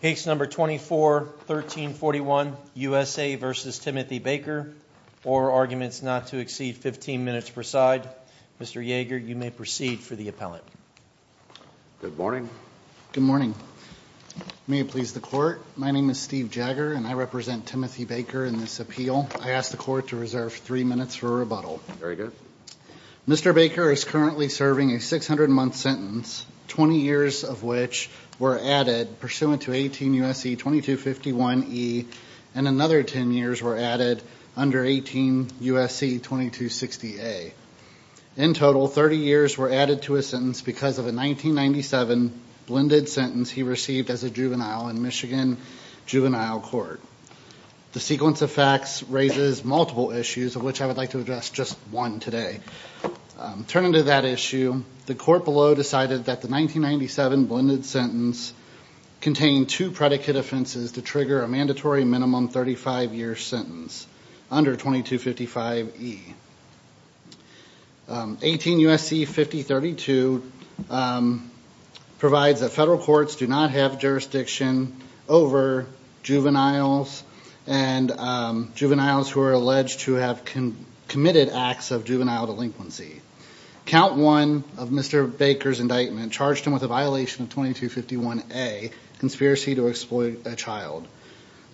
Page 24, 1341, USA v. Timothy Baker, or arguments not to exceed 15 minutes per side, Mr. Yeager, you may proceed for the appellate. Good morning. Good morning. May it please the Court, my name is Steve Jagger and I represent Timothy Baker in this appeal. I ask the Court to reserve three minutes for rebuttal. Very good. Mr. Baker is currently serving a 600-month sentence, 20 years of which were added pursuant to 18 U.S.C. 2251e and another 10 years were added under 18 U.S.C. 2260a. In total, 30 years were added to his sentence because of a 1997 blended sentence he received as a juvenile in Michigan Juvenile Court. The sequence of facts raises multiple issues, of which I would like to address just one today. Turning to that issue, the Court below decided that the 1997 blended sentence contained two predicate offenses to trigger a mandatory minimum 35-year sentence under 2255e. 18 U.S.C. 5032 provides that federal courts do not have jurisdiction over juveniles and juveniles who are alleged to have committed acts of juvenile delinquency. Count 1 of Mr. Baker's indictment charged him with a violation of 2251a, conspiracy to exploit a child.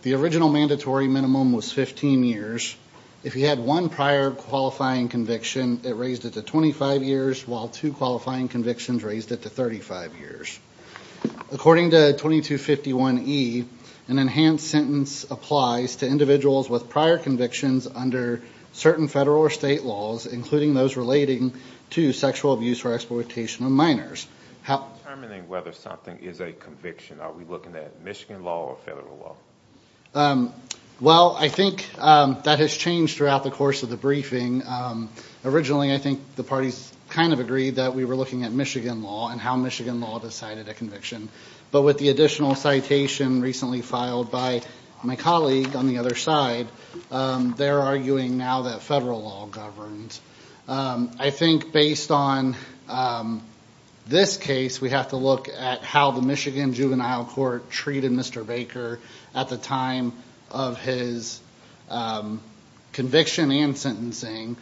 The original mandatory minimum was 15 years. If he had one prior qualifying conviction, it raised it to 25 years, while two qualifying convictions raised it to 35 years. According to 2251e, an enhanced sentence applies to individuals with prior convictions under certain federal or state laws, including those relating to sexual abuse or exploitation of determining whether something is a conviction. Are we looking at Michigan law or federal law? Well, I think that has changed throughout the course of the briefing. Originally, I think the parties kind of agreed that we were looking at Michigan law and how Michigan law decided a conviction. But with the additional citation recently filed by my colleague on the other side, they're arguing now that federal law governs. I think based on this case, we have to look at how the Michigan Juvenile Court treated Mr. Baker at the time of his conviction and sentencing,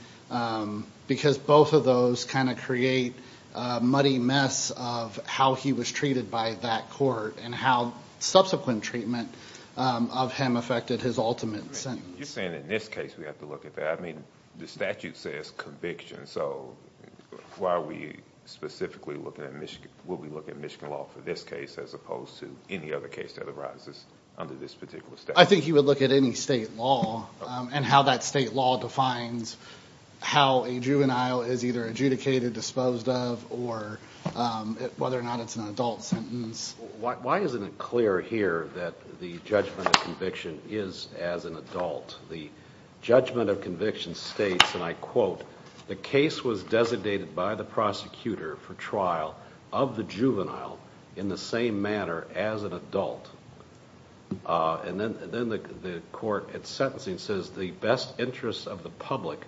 because both of those kind of create a muddy mess of how he was treated by that court and how subsequent treatment of him affected his ultimate sentence. You're saying in this case we have to look at that? I mean, the statute says conviction, so why are we specifically looking at Michigan law for this case as opposed to any other case that arises under this particular statute? I think he would look at any state law and how that state law defines how a juvenile is either adjudicated, disposed of, or whether or not it's an adult sentence. Why isn't it clear here that the judgment of conviction is as an adult? The judgment of conviction states, and I quote, the case was designated by the prosecutor for trial of the juvenile in the same manner as an adult. And then the court at sentencing says the best interest of the public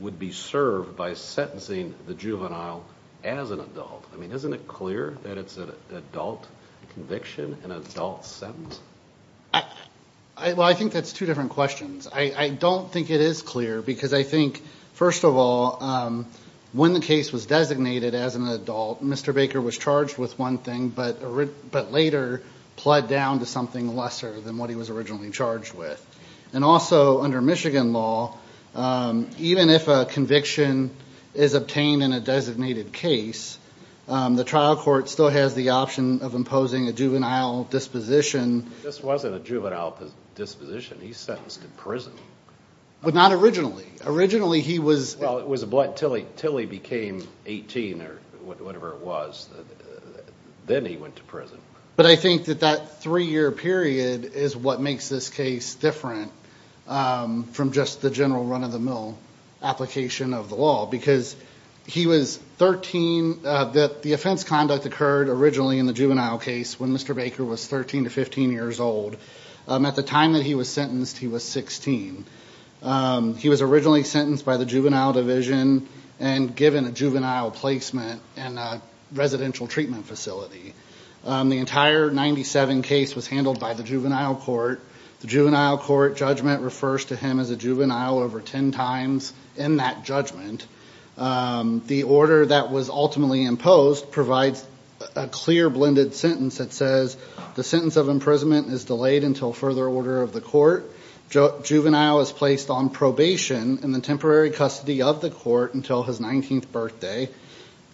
would be served by sentencing the juvenile as an adult. I mean, isn't it clear that it's an adult conviction, an adult sentence? Well, I think that's two different questions. I don't think it is clear, because I think, first of all, when the case was designated as an adult, Mr. Baker was charged with one thing, but later plied down to something lesser than what he was originally charged with. And also, under Michigan law, even if a conviction is obtained in a designated case, the trial court still has the option of imposing a juvenile disposition. This wasn't a juvenile disposition. He's sentenced to prison. But not originally. Originally, he was- Well, it was a blunt, till he became 18, or whatever it was. Then he went to prison. But I think that that three-year period is what makes this case different from just the general run-of-the-mill application of the law. Because he was 13, the offense conduct occurred originally in the juvenile case when Mr. Baker was 13 to 15 years old. At the time that he was sentenced, he was 16. He was originally sentenced by the juvenile division and given a juvenile placement in a residential treatment facility. The entire 97 case was handled by the juvenile court. The juvenile court judgment refers to him as a juvenile over 10 times in that judgment. The order that was ultimately imposed provides a clear blended sentence that says the sentence of imprisonment is delayed until further order of the court. Juvenile is placed on probation in the temporary custody of the court until his 19th birthday.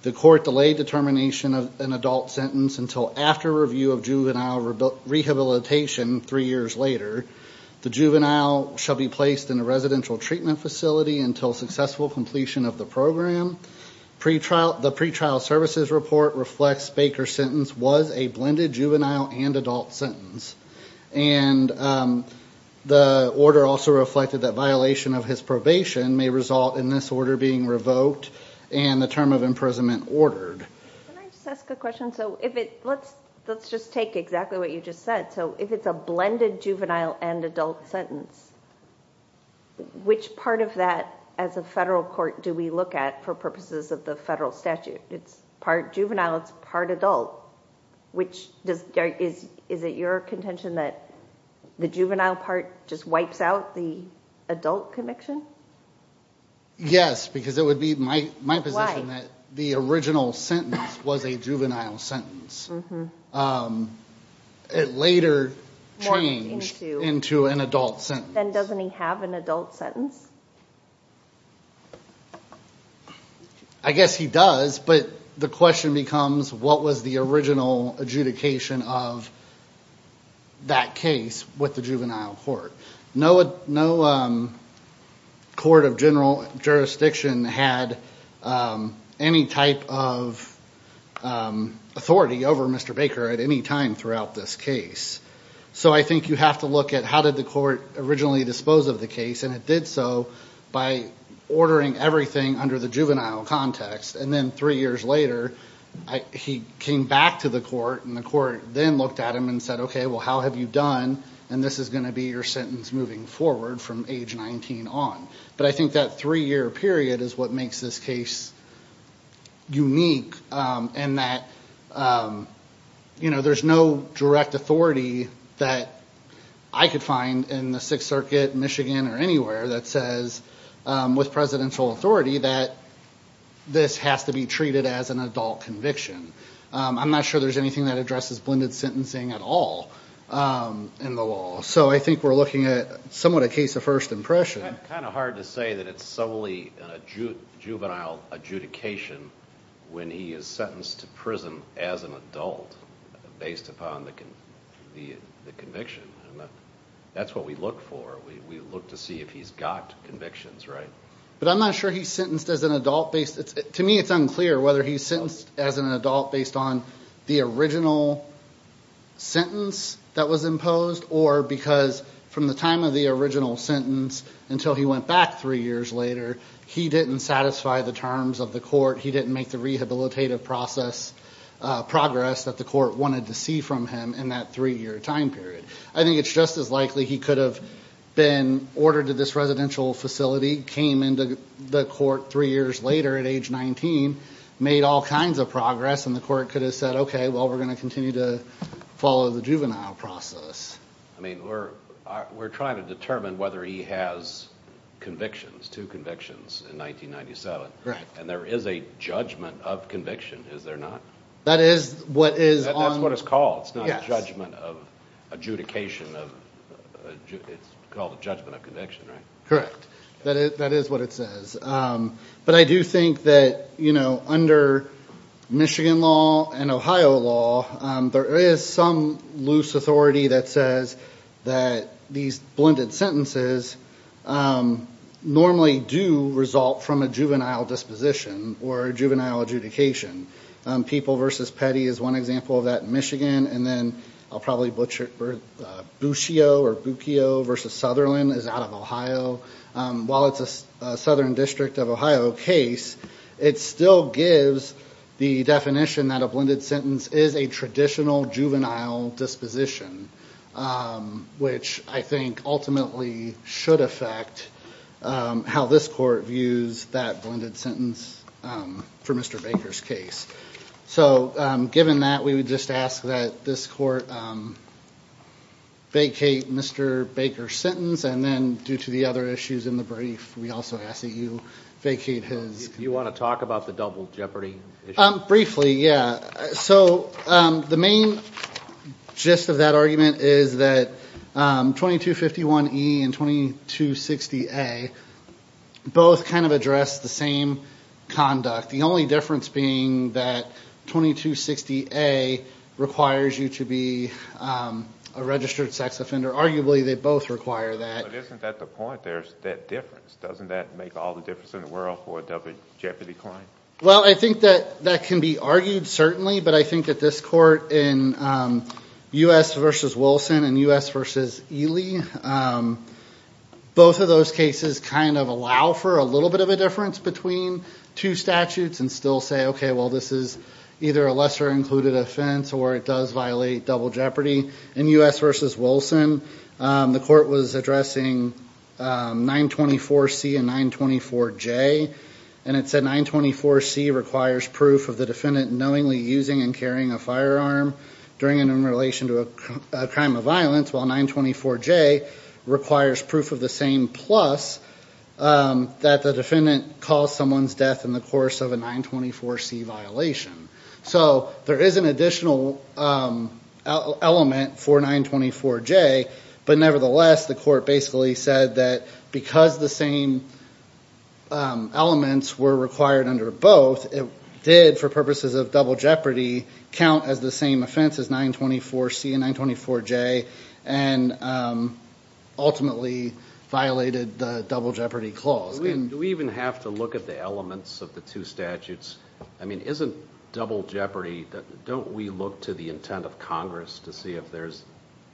The court delayed determination of an adult sentence until after review of juvenile rehabilitation three years later. The juvenile shall be placed in a residential treatment facility until successful completion of the program. The pretrial services report reflects Baker's sentence was a blended juvenile and adult sentence. And the order also reflected that violation of his probation may result in this order being revoked and the term of imprisonment ordered. Can I just ask a question? So let's just take exactly what you just said. So if it's a blended juvenile and adult sentence, which part of that as a federal court do we look at for purposes of the federal statute? It's part juvenile, it's part adult. Is it your contention that the juvenile part just wipes out the adult conviction? Yes, because it would be my position that the original sentence was a juvenile sentence. It later changed into an adult sentence. Then doesn't he have an adult sentence? I guess he does, but the question becomes what was the original adjudication of that case with the juvenile court? No court of general jurisdiction had any type of authority over Mr. Baker at any time throughout this case. So I think you have to look at how did the court originally dispose of the case, and it did so by ordering everything under the juvenile context. And then three years later, he came back to the court and the court then looked at him and said, OK, well, how have you done? And this is going to be your sentence moving forward from age 19 on. But I think that three year period is what makes this case unique in that there's no direct authority that I could find in the Sixth Circuit, Michigan, or anywhere that says, with presidential authority, that this has to be treated as an adult conviction. I'm not sure there's anything that addresses blended sentencing at all in the law. So I think we're looking at somewhat a case of first impression. Kind of hard to say that it's solely a juvenile adjudication when he is sentenced to prison as an adult based upon the conviction. That's what we look for. We look to see if he's got convictions right. But I'm not sure he's sentenced as an adult based. To me, it's unclear whether he's sentenced as an adult based on the original sentence that was imposed, or because from the time of the original sentence until he went back three years later, he didn't satisfy the terms of the court. He didn't make the rehabilitative process progress that the court wanted to see from him in that three year time period. I think it's just as likely he could have been ordered to this residential facility, came into the court three years later at age 19, made all kinds of progress, and the court could have said, OK, well, we're going to continue to follow the juvenile process. I mean, we're trying to determine whether he has convictions, two convictions in 1997. And there is a judgment of conviction, is there not? That is what is on. That's what it's called. It's not a judgment of adjudication. It's called a judgment of conviction, right? Correct. That is what it says. But I do think that under Michigan law and Ohio law, there is some loose authority that says that these blended sentences normally do result from a juvenile disposition or a juvenile adjudication. People versus Petty is one example of that in Michigan. And then I'll probably butcher it, Buccio versus Sutherland is out of Ohio. While it's a Southern District of Ohio case, it still gives the definition that a blended sentence is a traditional juvenile disposition, which I think ultimately should affect how this court views that blended sentence for Mr. Baker's case. So given that, we would just ask that this court vacate Mr. Baker's sentence. And then due to the other issues in the brief, we also ask that you vacate his. You want to talk about the double jeopardy issue? Briefly, yeah. So the main gist of that argument is that 2251E and 2260A both address the same conduct. The only difference being that 2260A requires you to be a registered sex offender. Arguably, they both require that. But isn't that the point? There's that difference. Doesn't that make all the difference in the world for a double jeopardy claim? Well, I think that that can be argued, certainly. But I think that this court in U.S. versus Wilson and U.S. versus Ely, both of those cases kind of allow for a little bit of a difference between two statutes and still say, OK, well, this is either a lesser included offense or it does violate double jeopardy. In U.S. versus Wilson, the court was addressing 924C and 924J. And it said 924C requires proof of the defendant knowingly using and carrying a firearm during and in relation to a crime of violence, while 924J requires proof of the same plus that the defendant caused someone's death in the course of a 924C violation. So there is an additional element for 924J. But nevertheless, the court basically said that because the same elements were required under both, it did, for purposes of double jeopardy, count as the same offense as 924C and 924J and ultimately violated the double jeopardy clause. Do we even have to look at the elements of the two statutes? I mean, isn't double jeopardy, don't we look to the intent of Congress to see if there's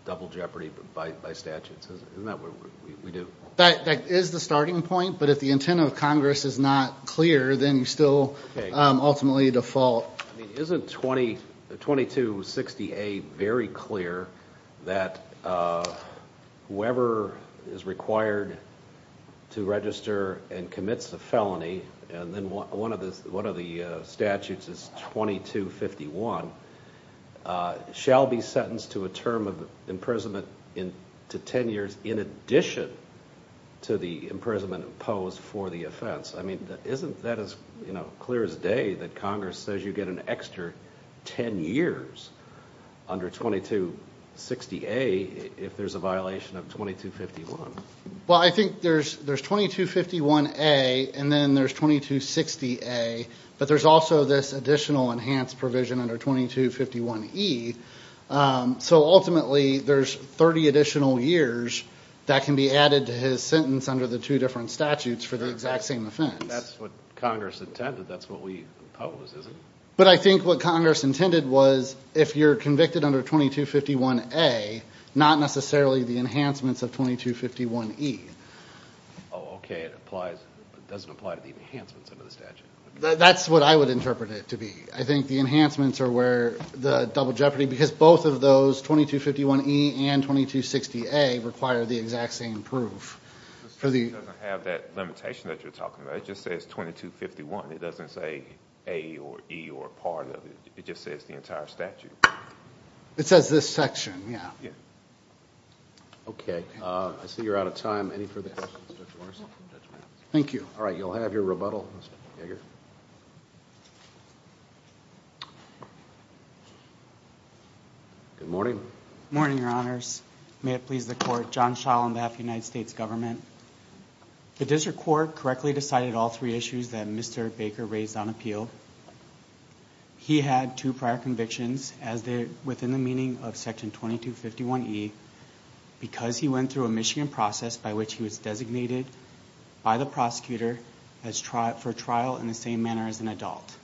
double jeopardy by statutes? Isn't that what we do? That is the starting point. But if the intent of Congress is not clear, then you still ultimately default. Isn't 2260A very clear that whoever is required to register and commits a felony, and then one of the statutes is 2251, shall be sentenced to a term of imprisonment to 10 years in addition to the imprisonment imposed for the offense? I mean, isn't that as clear as day that Congress says you get an extra 10 years under 2260A if there's a violation of 2251? Well, I think there's 2251A and then there's 2260A, but there's also this additional enhanced provision under 2251E. So ultimately, there's 30 additional years that can be added to his sentence under the two different statutes for the exact same offense. That's what Congress intended. That's what we impose, isn't it? But I think what Congress intended was if you're convicted under 2251A, not necessarily the enhancements of 2251E. Oh, okay, it doesn't apply to the enhancements under the statute. That's what I would interpret it to be. I think the enhancements are where the double jeopardy, because both of those, 2251E and 2260A, require the exact same proof. It doesn't have that limitation that you're talking about. It just says 2251. It doesn't say A or E or a part of it. It just says the entire statute. It says this section, yeah. Yeah. Okay, I see you're out of time. Any further questions, Judge Morrison? Thank you. All right, you'll have your rebuttal. Mr. Yeager. Good morning. Morning, your honors. May it please the court. John Schall on behalf of the United States government. The district court correctly decided all three issues that Mr. Baker raised on appeal. He had two prior convictions within the meaning of section 2251E because he went through a Michigan process by which he was designated by the prosecutor for trial in the same manner as an adult.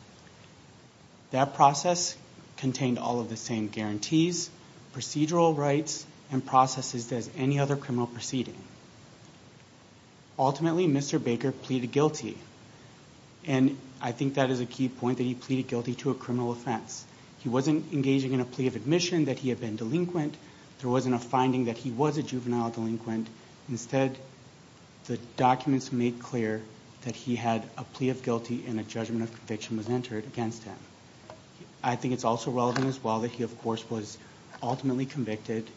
That process contained all of the same guarantees, procedural rights, and processes as any other criminal proceeding. Ultimately, Mr. Baker pleaded guilty. And I think that is a key point that he pleaded guilty to a criminal offense. He wasn't engaging in a plea of admission that he had been delinquent. There wasn't a finding that he was a juvenile delinquent. Instead, the documents made clear that he had a plea of guilty and a judgment of conviction was entered against him. I think it's also relevant as well that he, of course, was ultimately convicted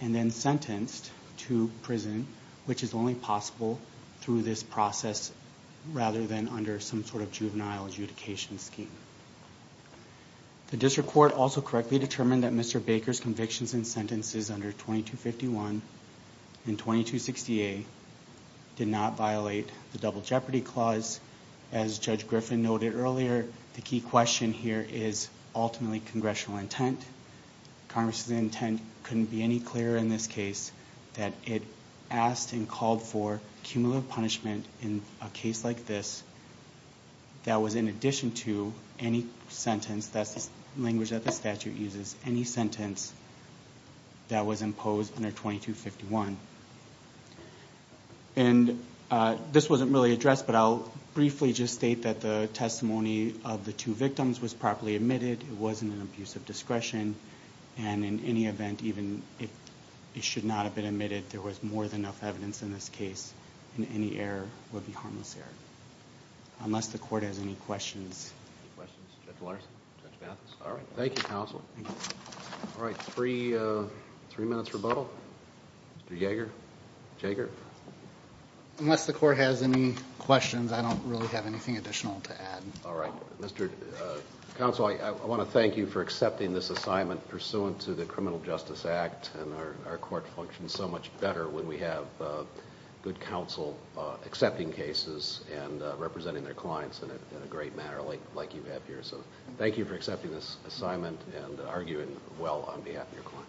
and then sentenced to prison, which is only possible through this process rather than under some sort of juvenile adjudication scheme. The district court also correctly determined that Mr. Baker's convictions and sentences under 2251 and 2268 did not violate the Double Jeopardy Clause. As Judge Griffin noted earlier, the key question here is ultimately congressional intent. Congress' intent couldn't be any clearer in this case that it asked and called for cumulative punishment in a case like this that was in addition to any sentence, that's language that the statute uses, any sentence that was imposed under 2251. And this wasn't really addressed, but I'll briefly just state that the testimony of the two victims was properly admitted. It wasn't an abuse of discretion. And in any event, even if it should not have been admitted, there was more than enough evidence in this case, and any error would be harmless error. Unless the court has any questions. Any questions? Judge Larson? All right. Thank you, counsel. All right, three minutes rebuttal. Mr. Jaeger? Jaeger? Unless the court has any questions, I don't really have anything additional to add. All right. Mr. Counsel, I want to thank you for accepting this assignment pursuant to the Criminal Justice Act, and our court functions so much better when we have good counsel accepting cases and representing their clients in a great manner like you have here. So thank you for accepting this assignment and arguing well on behalf of your client.